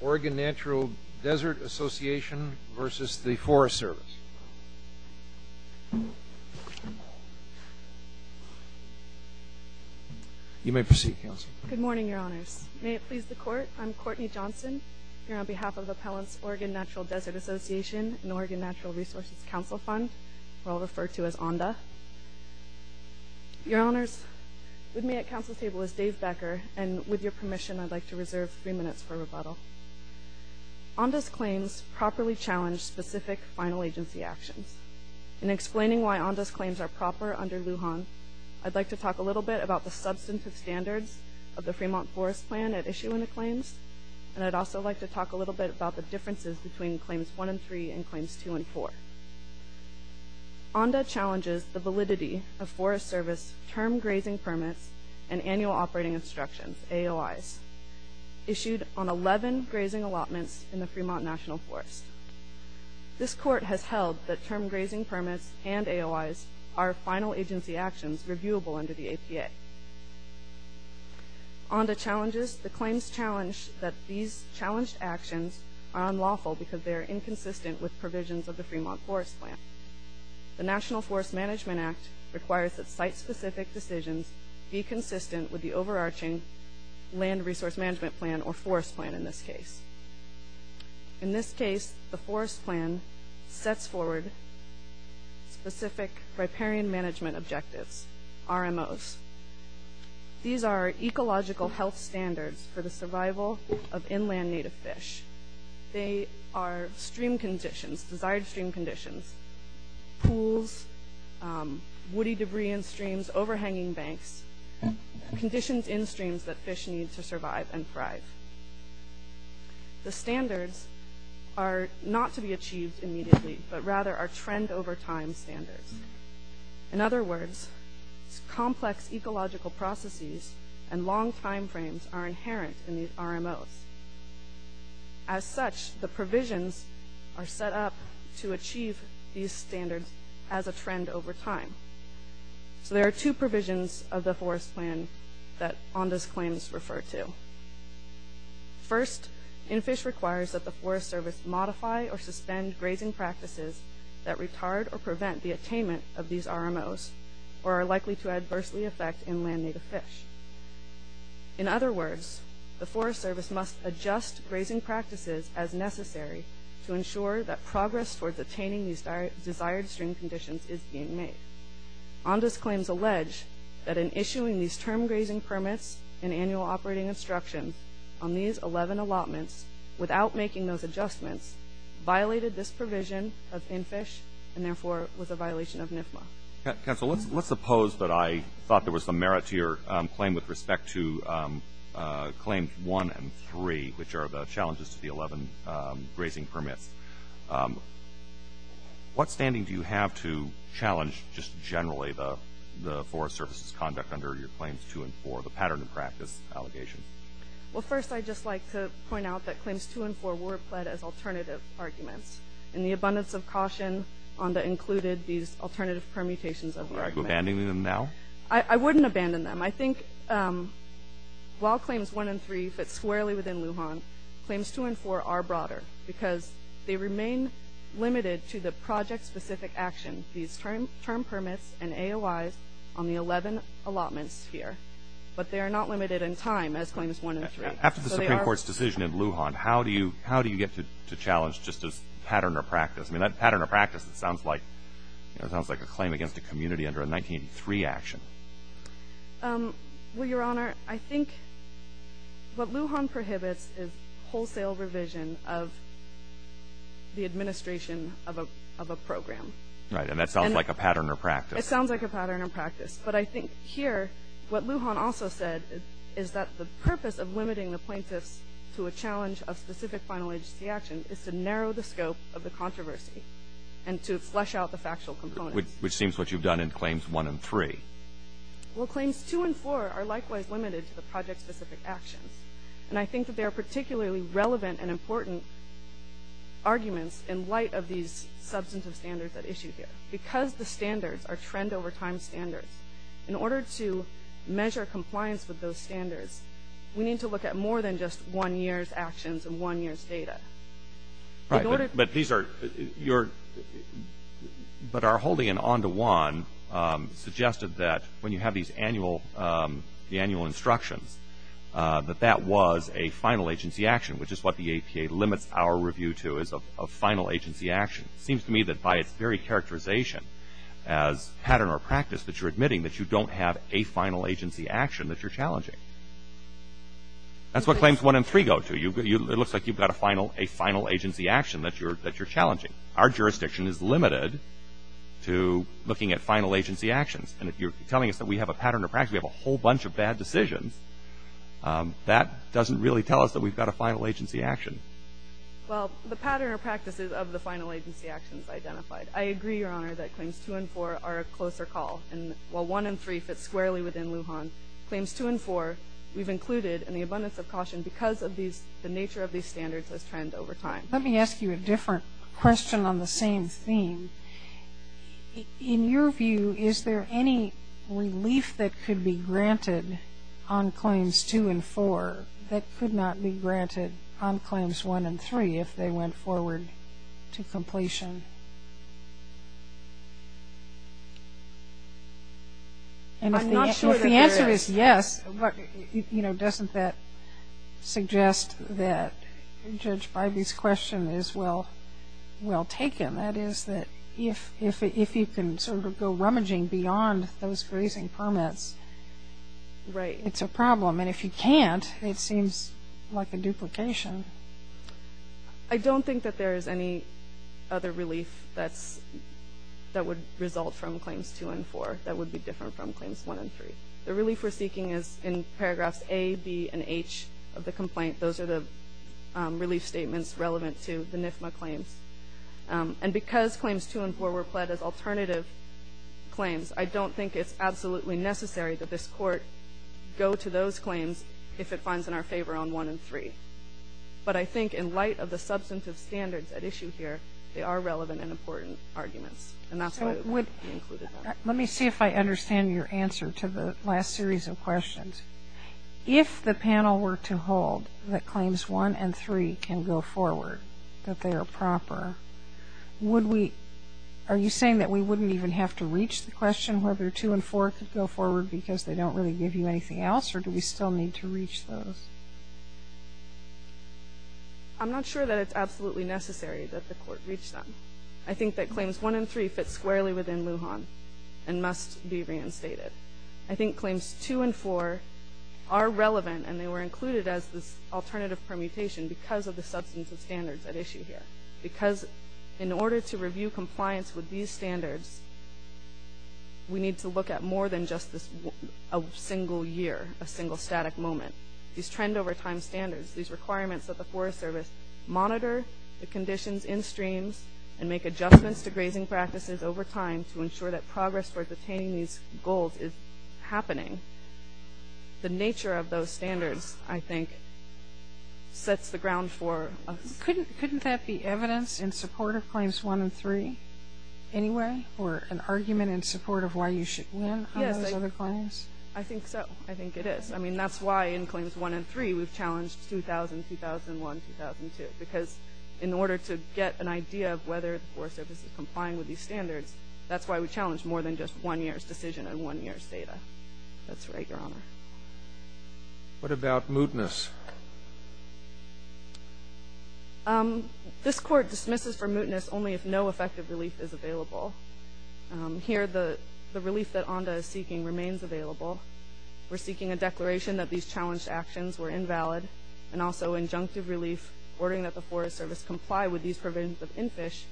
Oregon Natural Desert Association v. The Forest Service You may proceed, Counsel. Good morning, Your Honors. May it please the Court, I'm Courtney Johnson. Here on behalf of the Appellant's Oregon Natural Desert Association and Oregon Natural Resources Counsel Fund, we're all referred to as ONDA. Your Honors, with me at counsel's table is Dave Becker, and with your permission I'd like to reserve three minutes for rebuttal. ONDA's claims properly challenge specific final agency actions. In explaining why ONDA's claims are proper under Lujan, I'd like to talk a little bit about the substantive standards of the Fremont Forest Plan at issue in the claims, and I'd also like to talk a little bit about the differences between Claims 1 and 3 and Claims 2 and 4. ONDA challenges the validity of Forest Service Term Grazing Permits and Annual Operating Instructions, AOIs, issued on 11 grazing allotments in the Fremont National Forest. This Court has held that Term Grazing Permits and AOIs are final agency actions reviewable under the APA. ONDA challenges the claims challenge that these challenged actions are unlawful because they are inconsistent with provisions of the Fremont Forest Plan. The National Forest Management Act requires that site-specific decisions be consistent with the overarching Land Resource Management Plan, or Forest Plan in this case. In this case, the Forest Plan sets forward specific riparian management objectives, RMOs. These are ecological health standards for the survival of inland native fish. They are stream conditions, desired stream conditions, pools, woody debris in streams, overhanging banks, conditions in streams that fish need to survive and thrive. The standards are not to be achieved immediately, but rather are trend over time standards. In other words, complex ecological processes and long time frames are inherent in these RMOs. As such, the provisions are set up to achieve these standards as a trend over time. So there are two provisions of the Forest Plan that ONDA's claims refer to. First, NFISH requires that the Forest Service modify or suspend grazing practices that retard or prevent the attainment of these RMOs or are likely to adversely affect inland native fish. In other words, the Forest Service must adjust grazing practices as necessary to ensure that progress towards attaining these desired stream conditions is being made. ONDA's claims allege that in issuing these term grazing permits and annual operating instructions on these 11 allotments without making those adjustments violated this provision of NFISH and therefore was a violation of NFMA. Council, let's suppose that I thought there was some merit to your claim with respect to Claim 1 and 3, which are the challenges to the 11 grazing permits. What standing do you have to challenge just generally the Forest Service's conduct under your Claims 2 and 4, the pattern of practice allegation? Well, first I'd just like to point out that Claims 2 and 4 were pled as alternative arguments. In the abundance of caution, ONDA included these alternative permutations of the argument. Are you abandoning them now? I wouldn't abandon them. I think while Claims 1 and 3 fit squarely within Lujan, Claims 2 and 4 are broader because they remain limited to the project-specific action, these term permits and AOIs, on the 11 allotments here. But they are not limited in time as Claims 1 and 3. After the Supreme Court's decision in Lujan, how do you get to challenge just this pattern of practice? I mean, that pattern of practice, it sounds like a claim against a community under a 1983 action. Well, Your Honor, I think what Lujan prohibits is wholesale revision of the administration of a program. Right, and that sounds like a pattern of practice. It sounds like a pattern of practice. But I think here what Lujan also said is that the purpose of limiting the plaintiffs to a challenge of specific final agency action is to narrow the scope of the controversy and to flesh out the factual components. Which seems what you've done in Claims 1 and 3. Well, Claims 2 and 4 are likewise limited to the project-specific actions. And I think that they are particularly relevant and important arguments in light of these substantive standards at issue here. Because the standards are trend-over-time standards, in order to measure compliance with those standards, we need to look at more than just one year's actions and one year's data. Right, but these are, you're, but are holding an on-to-one suggested that when you have these annual, the annual instructions, that that was a final agency action, which is what the APA limits our review to as a final agency action. It seems to me that by its very characterization as pattern or practice, that you're admitting that you don't have a final agency action that you're challenging. That's what Claims 1 and 3 go to. It looks like you've got a final agency action that you're challenging. Our jurisdiction is limited to looking at final agency actions. And if you're telling us that we have a pattern or practice, we have a whole bunch of bad decisions, that doesn't really tell us that we've got a final agency action. Well, the pattern or practice is of the final agency actions identified. I agree, Your Honor, that Claims 2 and 4 are a closer call. And while 1 and 3 fit squarely within Lujan, Claims 2 and 4 we've included in the abundance of caution because of these, the nature of these standards has trended over time. Let me ask you a different question on the same theme. In your view, is there any relief that could be granted on Claims 2 and 4 that could not be granted on Claims 1 and 3 if they went forward to completion? I'm not sure that there is. Well, if the answer is yes, doesn't that suggest that Judge Bybee's question is well taken? That is that if you can sort of go rummaging beyond those grazing permits, it's a problem. And if you can't, it seems like a duplication. I don't think that there is any other relief that would result from Claims 2 and 4 that would be different from Claims 1 and 3. The relief we're seeking is in paragraphs A, B, and H of the complaint. Those are the relief statements relevant to the NIFMA claims. And because Claims 2 and 4 were pled as alternative claims, I don't think it's absolutely necessary that this Court go to those claims if it finds in our favor on 1 and 3. But I think in light of the substantive standards at issue here, they are relevant and important arguments. And that's why it would be included. Let me see if I understand your answer to the last series of questions. If the panel were to hold that Claims 1 and 3 can go forward, that they are proper, are you saying that we wouldn't even have to reach the question whether 2 and 4 could go forward because they don't really give you anything else, or do we still need to reach those? I'm not sure that it's absolutely necessary that the Court reach them. I think that Claims 1 and 3 fit squarely within Lujan and must be reinstated. I think Claims 2 and 4 are relevant, and they were included as this alternative permutation because of the substantive standards at issue here, because in order to review compliance with these standards, we need to look at more than just a single year, a single static moment. These trend-over-time standards, these requirements that the Forest Service monitor, the conditions in streams, and make adjustments to grazing practices over time to ensure that progress towards attaining these goals is happening. The nature of those standards, I think, sets the ground for us. Couldn't that be evidence in support of Claims 1 and 3 anyway, or an argument in support of why you should win on those other claims? Yes, I think so. I think it is. I mean, that's why in Claims 1 and 3 we've challenged 2000, 2001, 2002, because in order to get an idea of whether the Forest Service is complying with these standards, that's why we challenge more than just one year's decision and one year's data. That's right, Your Honor. What about mootness? This Court dismisses for mootness only if no effective relief is available. Here, the relief that ONDA is seeking remains available. We're seeking a declaration that these challenged actions were invalid and also injunctive relief ordering that the Forest Service comply with these provisions of NFISH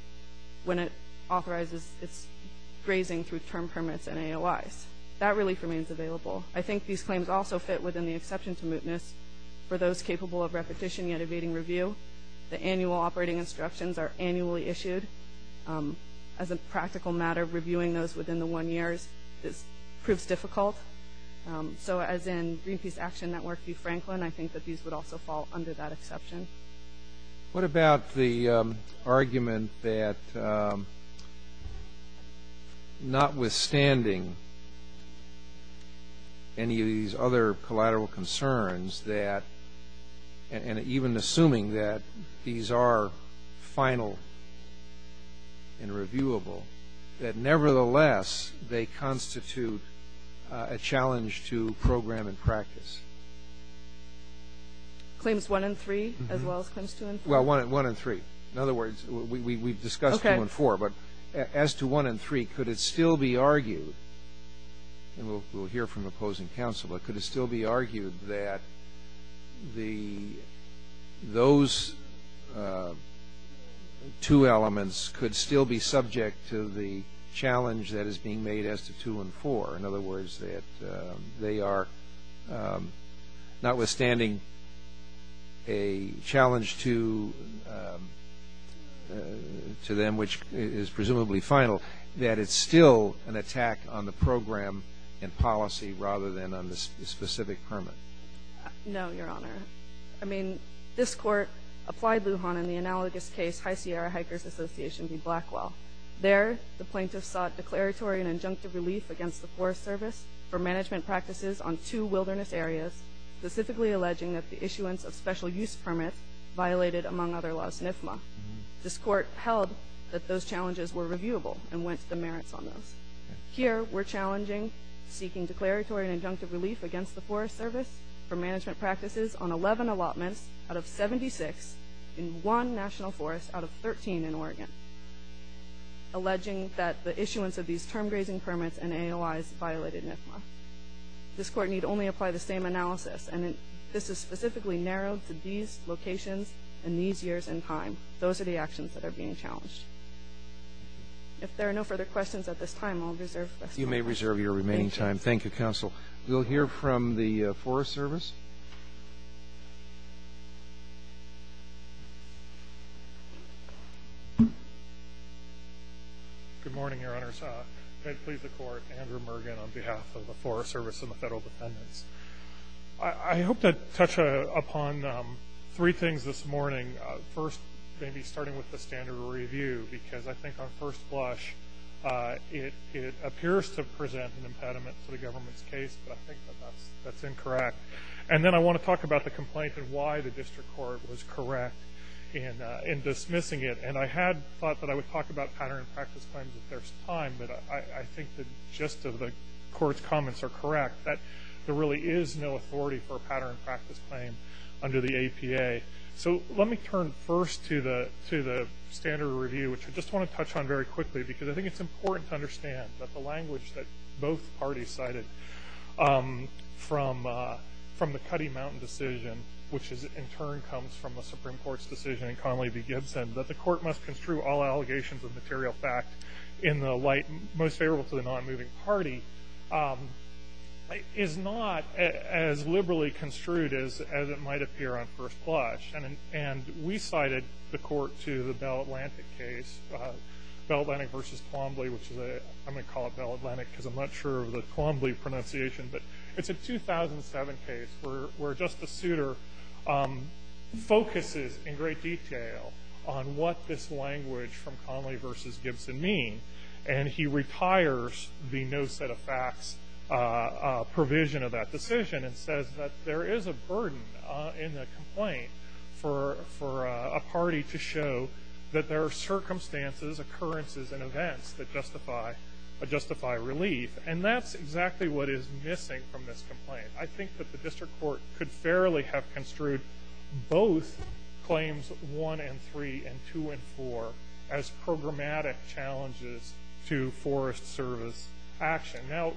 when it authorizes its grazing through term permits and AOIs. That relief remains available. I think these claims also fit within the exception to mootness for those capable of repetition yet evading review. The annual operating instructions are annually issued. As a practical matter, reviewing those within the one year proves difficult. So as in Greenpeace Action Network v. Franklin, I think that these would also fall under that exception. What about the argument that notwithstanding any of these other collateral concerns and even assuming that these are final and reviewable, that nevertheless they constitute a challenge to program and practice? Claims 1 and 3 as well as claims 2 and 4? Well, 1 and 3. In other words, we've discussed 2 and 4. Okay. But as to 1 and 3, could it still be argued, and we'll hear from opposing counsel, but could it still be argued that those two elements could still be subject to the challenge that is being made as to 2 and 4? In other words, that they are, notwithstanding a challenge to them, which is presumably final, that it's still an attack on the program and policy rather than on the specific permit? No, Your Honor. I mean, this Court applied Lujan in the analogous case, High Sierra Hikers Association v. Blackwell. There, the plaintiffs sought declaratory and injunctive relief against the Forest Service for management practices on two wilderness areas, specifically alleging that the issuance of special use permits violated, among other laws, NFMA. This Court held that those challenges were reviewable and went to demerits on those. Here, we're challenging, seeking declaratory and injunctive relief against the Forest Service for management practices alleging that the issuance of these term grazing permits and AOIs violated NFMA. This Court need only apply the same analysis, and this is specifically narrowed to these locations and these years in time. Those are the actions that are being challenged. If there are no further questions at this time, I'll reserve the rest of my time. You may reserve your remaining time. Thank you, Counsel. We'll hear from the Forest Service. Good morning, Your Honors. I plead the Court, Andrew Mergen, on behalf of the Forest Service and the Federal Defendants. I hope to touch upon three things this morning. First, maybe starting with the standard review, because I think on first blush, it appears to present an impediment to the government's case, but I think that that's incorrect. And then I want to talk about the complaint and why the District Court was correct in dismissing it. And I had thought that I would talk about pattern and practice claims if there's time, but I think the gist of the Court's comments are correct, that there really is no authority for a pattern and practice claim under the APA. So let me turn first to the standard review, which I just want to touch on very quickly, because I think it's important to understand that the language that both parties cited from the Cuddy Mountain decision, which in turn comes from the Supreme Court's decision in Conley v. Gibson, that the Court must construe all allegations of material fact in the light most favorable to the non-moving party, is not as liberally construed as it might appear on first blush. And we cited the Court to the Bell Atlantic case, Bell Atlantic v. Colomble, which I'm going to call it Bell Atlantic because I'm not sure of the Colomble pronunciation, but it's a 2007 case where Justice Souter focuses in great detail on what this language from Conley v. Gibson means, and he retires the no set of facts provision of that decision and says that there is a burden in the complaint for a party to show that there are circumstances, occurrences, and events that justify relief. And that's exactly what is missing from this complaint. I think that the District Court could fairly have construed both claims 1 and 3 and 2 and 4 as programmatic challenges to Forest Service action. Now,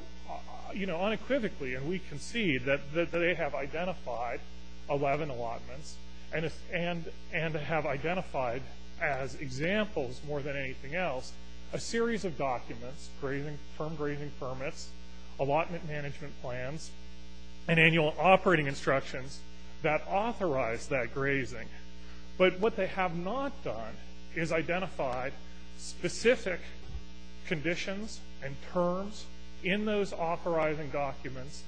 you know, unequivocally, and we concede that they have identified 11 allotments and have identified as examples more than anything else a series of documents, firm grazing permits, allotment management plans, and annual operating instructions that authorize that grazing. But what they have not done is identified specific conditions and terms in those authorizing documents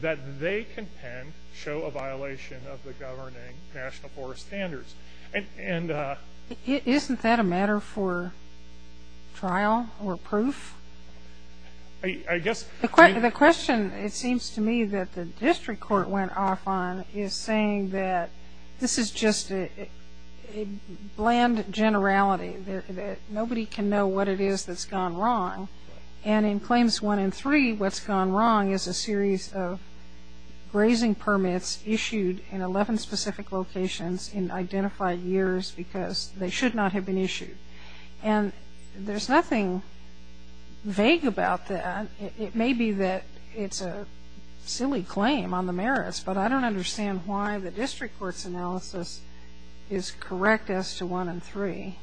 that they contend show a violation of the governing National Forest Standards. Isn't that a matter for trial or proof? The question, it seems to me, that the District Court went off on is saying that this is just a bland generality. Nobody can know what it is that's gone wrong. And in claims 1 and 3, what's gone wrong is a series of grazing permits issued in 11 specific locations in identified years because they should not have been issued. And there's nothing vague about that. It may be that it's a silly claim on the merits, but I don't understand why the District Court's analysis is correct as to 1 and 3.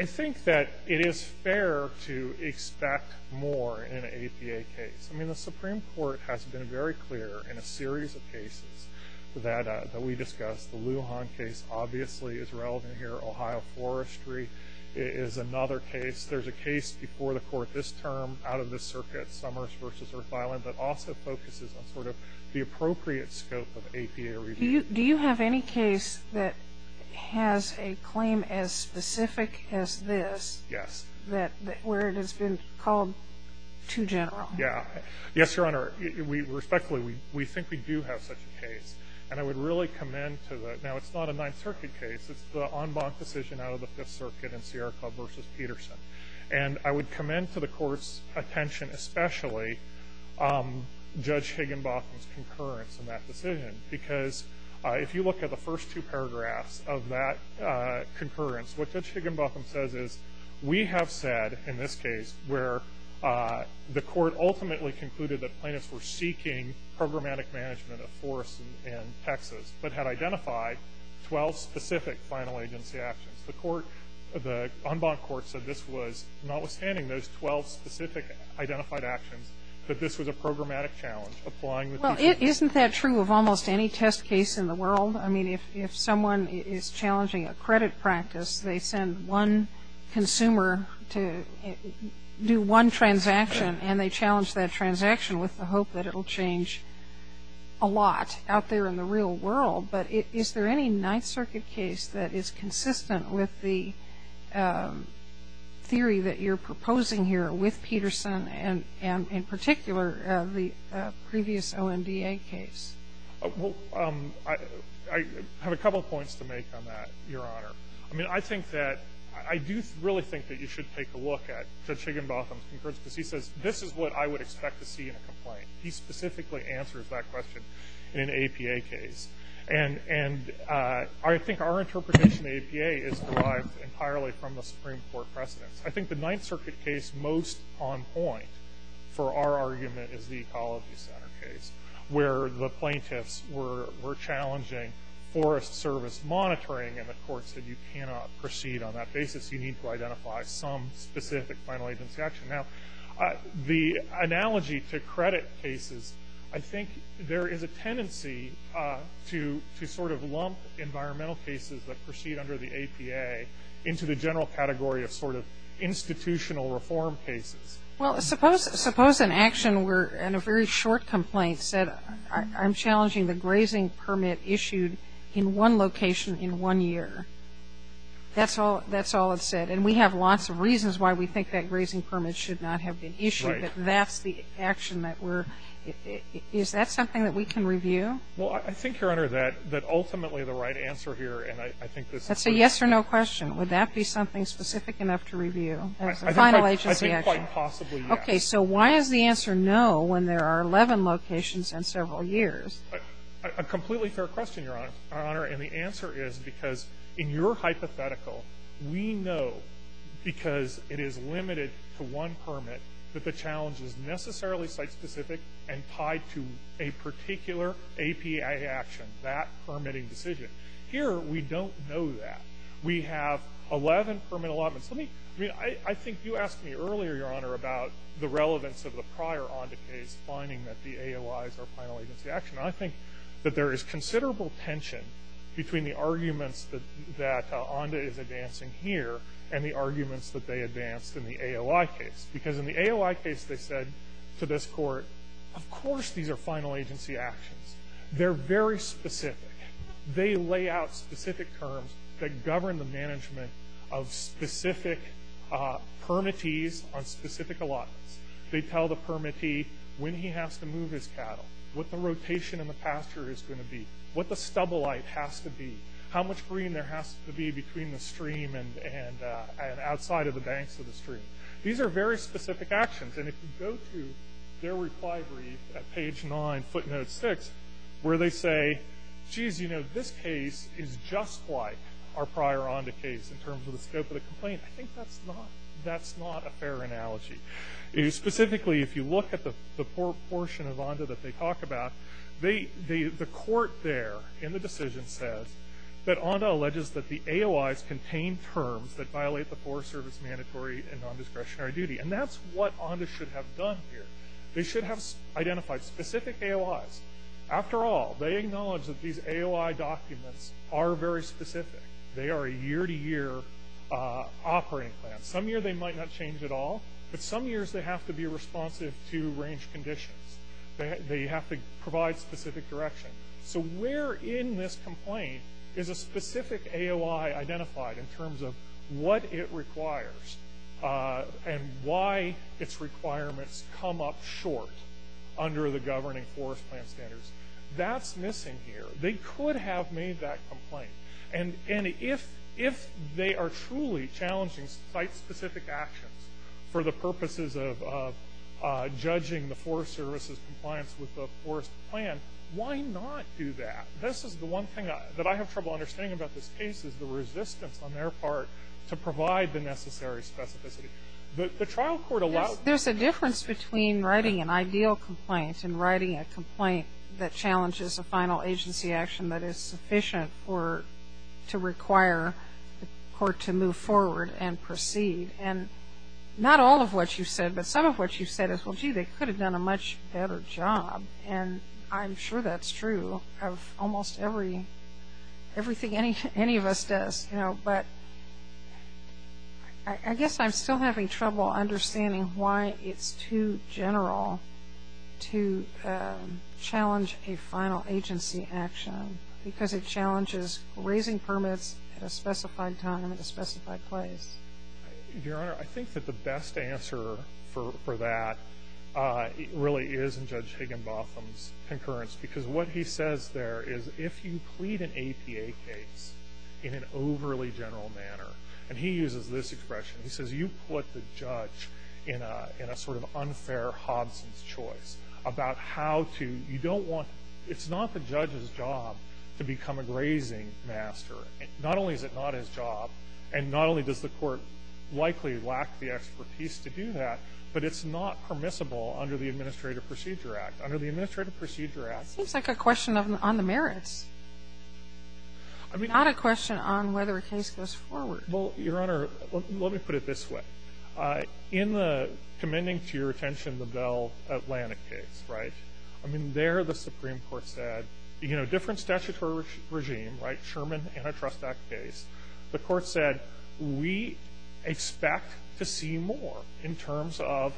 I think that it is fair to expect more in an APA case. I mean, the Supreme Court has been very clear in a series of cases that we discussed. The Lujan case obviously is relevant here. Ohio forestry is another case. There's a case before the Court this term out of this circuit, Summers v. Earth Island, that also focuses on sort of the appropriate scope of APA review. Do you have any case that has a claim as specific as this where it has been called too general? Yeah. Yes, Your Honor. Respectfully, we think we do have such a case. And I would really commend to the – now, it's not a Ninth Circuit case. It's the en banc decision out of the Fifth Circuit in Sierra Club v. Peterson. And I would commend to the Court's attention especially Judge Higginbotham's concurrence in that decision because if you look at the first two paragraphs of that concurrence, what Judge Higginbotham says is we have said in this case where the Court ultimately concluded that plaintiffs were seeking programmatic management of forests in Texas but had identified 12 specific final agency actions. The court – the en banc court said this was, notwithstanding those 12 specific identified actions, that this was a programmatic challenge applying the – Well, isn't that true of almost any test case in the world? I mean, if someone is challenging a credit practice, they send one consumer to do one transaction, and they challenge that transaction with the hope that it will change a lot out there in the real world. But is there any Ninth Circuit case that is consistent with the theory that you're proposing here with Peterson and in particular the previous OMDA case? Well, I have a couple of points to make on that, Your Honor. I mean, I think that – I do really think that you should take a look at Judge Higginbotham's concurrence because he says this is what I would expect to see in a complaint. He specifically answers that question in an APA case. And I think our interpretation of APA is derived entirely from the Supreme Court precedence. I think the Ninth Circuit case most on point for our argument is the Ecology Center case where the plaintiffs were challenging forest service monitoring, and the court said you cannot proceed on that basis. You need to identify some specific final agency action. Now, the analogy to credit cases, I think there is a tendency to sort of lump environmental cases that proceed under the APA into the general category of sort of institutional reform cases. Well, suppose an action were in a very short complaint said, I'm challenging the grazing permit issued in one location in one year. That's all it said. And we have lots of reasons why we think that grazing permit should not have been issued. Right. But that's the action that we're – is that something that we can review? Well, I think, Your Honor, that ultimately the right answer here, and I think this is where – That's a yes or no question. Would that be something specific enough to review as a final agency action? I think quite possibly yes. Okay. So why does the answer no when there are 11 locations and several years? A completely fair question, Your Honor. And the answer is because in your hypothetical, we know because it is limited to one permit that the challenge is necessarily site-specific and tied to a particular APA action, that permitting decision. Here, we don't know that. We have 11 permit allotments. Let me – I mean, I think you asked me earlier, Your Honor, about the relevance of the prior Onda case finding that the AOIs are final agency action. I think that there is considerable tension between the arguments that Onda is advancing here and the arguments that they advanced in the AOI case. Because in the AOI case, they said to this Court, of course these are final agency actions. They're very specific. They lay out specific terms that govern the management of specific permittees on specific allotments. They tell the permittee when he has to move his cattle, what the rotation in the pasture is going to be, what the stubble height has to be, how much green there has to be between the stream and outside of the banks of the stream. These are very specific actions. And if you go to their reply brief at page nine, footnote six, where they say, geez, you know, this case is just like our prior Onda case in terms of the scope of the complaint, I think that's not a fair analogy. Specifically, if you look at the portion of Onda that they talk about, the Court there in the decision says that Onda alleges that the AOIs contain terms that violate the Forest Service mandatory and non-discretionary duty. And that's what Onda should have done here. They should have identified specific AOIs. After all, they acknowledge that these AOI documents are very specific. They are a year-to-year operating plan. Some years they might not change at all, but some years they have to be responsive to range conditions. They have to provide specific direction. So where in this complaint is a specific AOI identified in terms of what it requires and why its requirements come up short under the governing Forest Plan standards? That's missing here. They could have made that complaint. And if they are truly challenging site-specific actions for the purposes of judging the Forest Service's compliance with the Forest Plan, why not do that? This is the one thing that I have trouble understanding about this case, is the resistance on their part to provide the necessary specificity. The trial court allowed this. There's a difference between writing an ideal complaint and writing a complaint that challenges a final agency action that is sufficient to require the court to move forward and proceed. And not all of what you've said, but some of what you've said is, well, gee, they could have done a much better job. And I'm sure that's true of almost everything any of us does. But I guess I'm still having trouble understanding why it's too general to challenge a final agency action, because it challenges raising permits at a specified time and a specified place. Your Honor, I think that the best answer for that really is in Judge Higginbotham's concurrence. Because what he says there is, if you plead an APA case in an overly general manner, and he uses this expression, he says, you put the judge in a sort of unfair Hobson's choice about how to, you don't want, it's not the judge's job to become a grazing master. Not only is it not his job, and not only does the court likely lack the expertise to do that, but it's not permissible under the Administrative Procedure Act. Under the Administrative Procedure Act ---- It seems like a question on the merits, not a question on whether a case goes forward. Well, Your Honor, let me put it this way. In the, commending to your attention, the Bell Atlantic case, right, I mean, there the trust act case, the court said, we expect to see more in terms of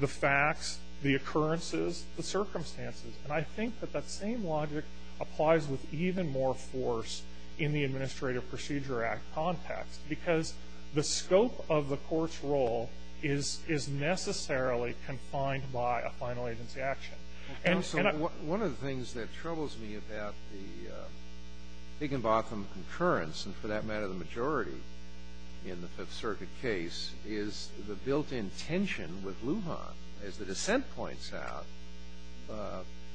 the facts, the occurrences, the circumstances. And I think that that same logic applies with even more force in the Administrative Procedure Act context, because the scope of the court's role is necessarily confined by a final agency action. Counsel, one of the things that troubles me about the Higginbotham concurrence, and for that matter, the majority in the Fifth Circuit case, is the built-in tension with Lujan. As the dissent points out,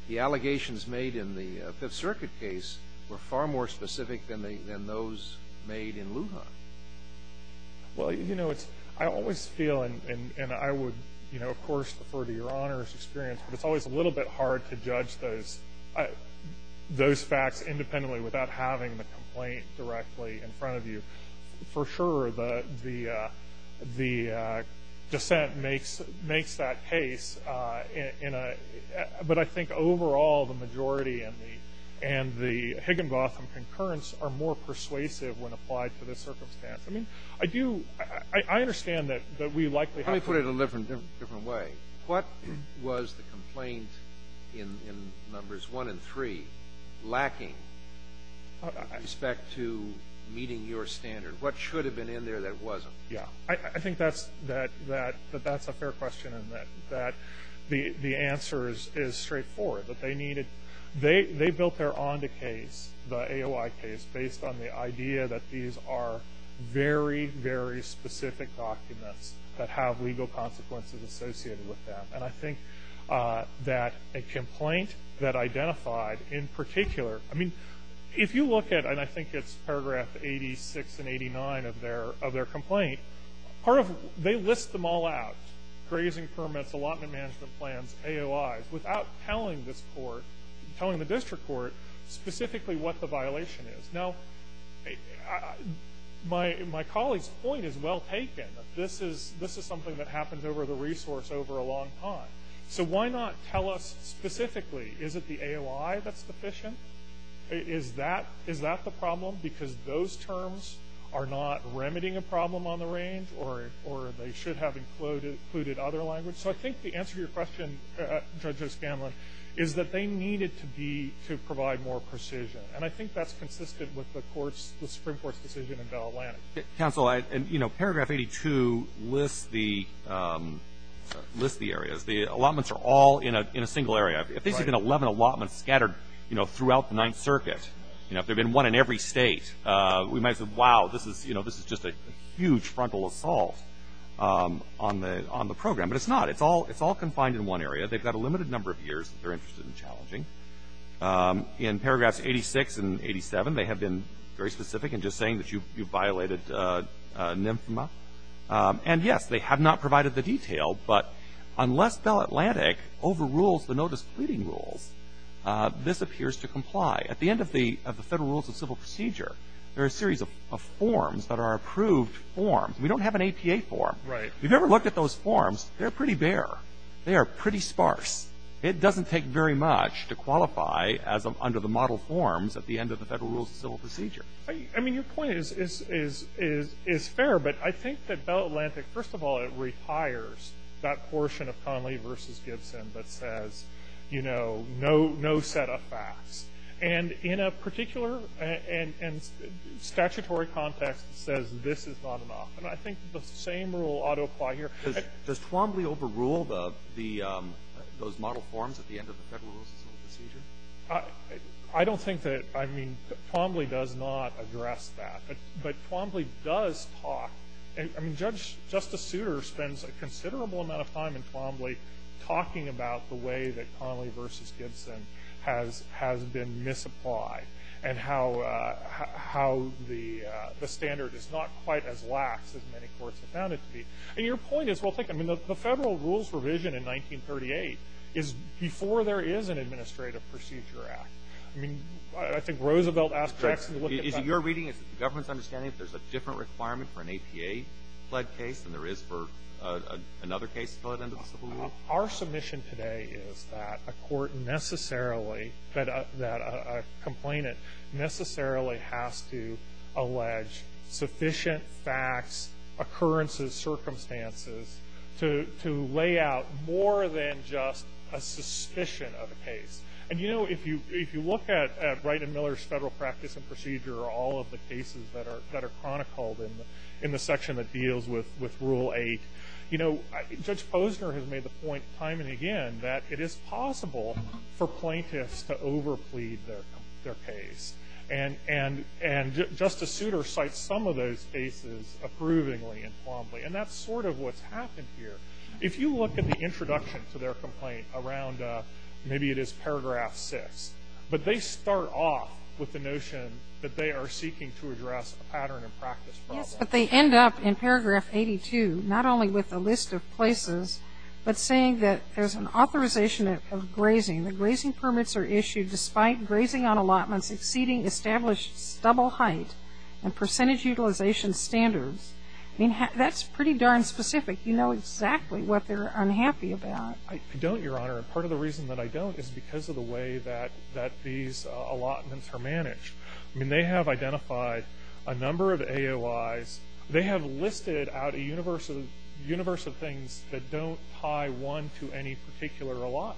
the allegations made in the Fifth Circuit case were far more specific than those made in Lujan. Well, you know, it's, I always feel, and I would, you know, of course, refer to your Honor's experience, but it's always a little bit hard to judge those facts independently without having the complaint directly in front of you. For sure, the dissent makes that case, but I think overall, the majority and the Higginbotham concurrence are more persuasive when applied to this circumstance. I mean, I do, I understand that we likely have to Let me put it a different way. What was the complaint in Numbers 1 and 3 lacking with respect to meeting your standard? What should have been in there that wasn't? Yeah, I think that's a fair question and that the answer is straightforward. That they needed, they built their on-the-case, the AOI case, based on the idea that these are very, very specific documents that have legal consequences associated with them. And I think that a complaint that identified in particular, I mean, if you look at, and I think it's paragraph 86 and 89 of their complaint, part of, they list them all out, grazing permits, allotment management plans, AOIs, without telling this court, telling the district court specifically what the violation is. Now, my colleague's point is well taken. This is something that happens over the resource over a long time. So why not tell us specifically, is it the AOI that's deficient? Is that the problem? Because those terms are not remedying a problem on the range or they should have included other language. So I think the answer to your question, Judge O'Scanlan, is that they needed to be, to provide more precision. And I think that's consistent with the Supreme Court's decision in Bell-Atlantic. Counsel, I, you know, paragraph 82 lists the, lists the areas. The allotments are all in a single area. If there's even 11 allotments scattered, you know, throughout the Ninth Circuit, you know, if there had been one in every state, we might have said, wow, this is, you know, this is just a huge frontal assault on the program. But it's not. It's all confined in one area. They've got a limited number of years that they're interested in challenging. In paragraphs 86 and 87, they have been very specific in just saying that you violated NMFMA. And, yes, they have not provided the detail. But unless Bell-Atlantic overrules the notice pleading rules, this appears to comply. At the end of the Federal Rules of Civil Procedure, there are a series of forms that are approved forms. We don't have an APA form. Right. If you've ever looked at those forms, they're pretty bare. They are pretty sparse. It doesn't take very much to qualify as under the model forms at the end of the Federal Rules of Civil Procedure. I mean, your point is fair. But I think that Bell-Atlantic, first of all, it requires that portion of Conley v. Gibson that says, you know, no set of facts. And in a particular statutory context, it says this is not enough. And I think the same rule ought to apply here. Does Twombly overrule those model forms at the end of the Federal Rules of Civil Procedure? I don't think that, I mean, Twombly does not address that. But Twombly does talk. I mean, Justice Souter spends a considerable amount of time in Twombly talking about the way that Conley v. Gibson has been misapplied and how the standard is not quite as lax as many courts have found it to be. And your point is, well, think, I mean, the Federal Rules revision in 1938 is an administrative procedure act. I mean, I think Roosevelt asked Jackson to look at that. Is it your reading? Is it the government's understanding that there's a different requirement for an APA-fled case than there is for another case to go to the end of the Civil Rule? Our submission today is that a court necessarily, that a complainant necessarily has to allege sufficient facts, occurrences, circumstances to lay out more than just a suspicion of a case. And, you know, if you look at Wright and Miller's Federal Practice and Procedure, all of the cases that are chronicled in the section that deals with Rule 8, you know, Judge Posner has made the point time and again that it is possible for plaintiffs to overplead their case. And Justice Souter cites some of those cases approvingly in Twombly. And that's sort of what's happened here. If you look at the introduction to their complaint around maybe it is paragraph 6, but they start off with the notion that they are seeking to address a pattern and practice problem. Yes, but they end up in paragraph 82 not only with a list of places, but saying that there's an authorization of grazing. The grazing permits are issued despite grazing on allotments exceeding established stubble height and percentage utilization standards. I mean, that's pretty darn specific. You know exactly what they're unhappy about. I don't, Your Honor. Part of the reason that I don't is because of the way that these allotments are managed. I mean, they have identified a number of AOIs. They have listed out a universe of things that don't tie one to any particular allotment.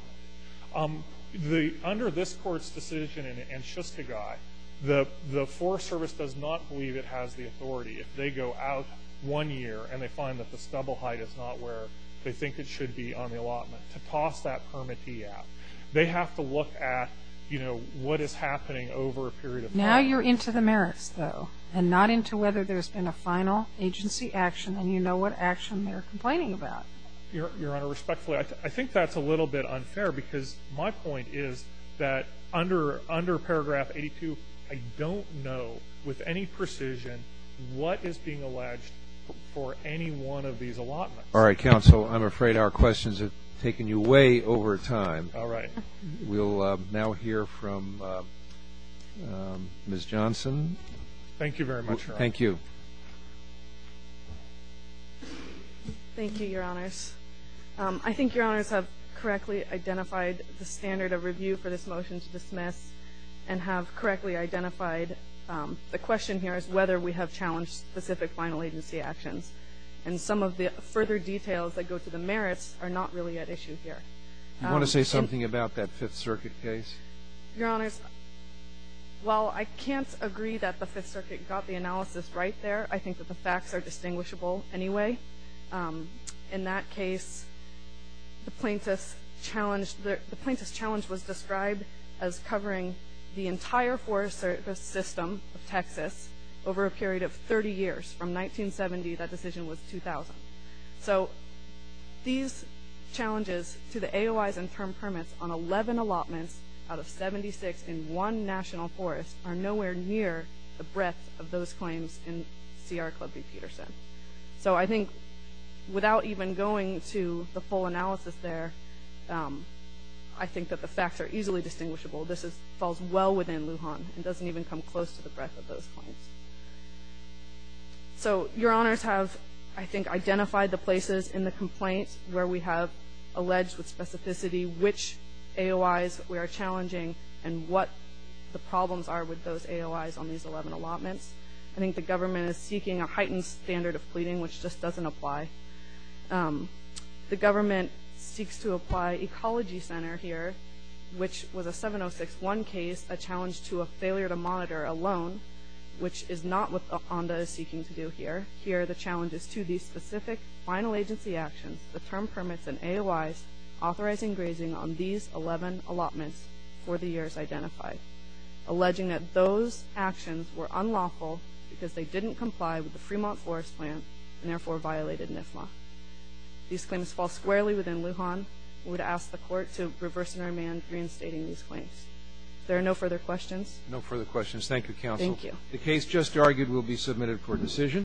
Under this Court's decision in Shustagai, the Forest Service does not believe it has the authority. If they go out one year and they find that the stubble height is not where they think it should be on the allotment, to toss that permittee out. They have to look at, you know, what is happening over a period of time. Now you're into the merits, though, and not into whether there's been a final agency action, and you know what action they're complaining about. Your Honor, respectfully, I think that's a little bit unfair because my point is that under paragraph 82, I don't know with any precision what is being alleged for any one of these allotments. All right, counsel. I'm afraid our questions have taken you way over time. All right. We'll now hear from Ms. Johnson. Thank you very much, Your Honor. Thank you. Thank you, Your Honors. I think Your Honors have correctly identified the standard of review for this motion to dismiss and have correctly identified the question here is whether we have challenged specific final agency actions. And some of the further details that go to the merits are not really at issue here. Do you want to say something about that Fifth Circuit case? Your Honors, while I can't agree that the Fifth Circuit got the analysis right there, I think that the facts are distinguishable anyway. In that case, the plaintiff's challenge was described as covering the entire forest service system of Texas over a period of 30 years. From 1970, that decision was 2000. So these challenges to the AOIs and term permits on 11 allotments out of 76 in one national forest are nowhere near the breadth of those claims in C.R. Clubby-Peterson. So I think without even going to the full analysis there, I think that the facts are easily distinguishable. This falls well within Lujan. It doesn't even come close to the breadth of those claims. So Your Honors have, I think, identified the places in the complaint where we have alleged with specificity which AOIs we are challenging and what the problems are with those AOIs on these 11 allotments. I think the government is seeking a heightened standard of pleading, which just doesn't apply. The government seeks to apply Ecology Center here, which was a 706-1 case, a challenge to a failure to monitor a loan, which is not what ONDA is seeking to do here. Here, the challenge is to these specific final agency actions, the term permits and AOIs, authorizing grazing on these 11 allotments for the years identified, alleging that those actions were unlawful because they didn't comply with the Fremont Forest Plan and, therefore, violated NIFMA. These claims fall squarely within Lujan. We would ask the Court to reverse and amend reinstating these claims. If there are no further questions. No further questions. Thank you, Counsel. Thank you. The case just argued will be submitted for decision.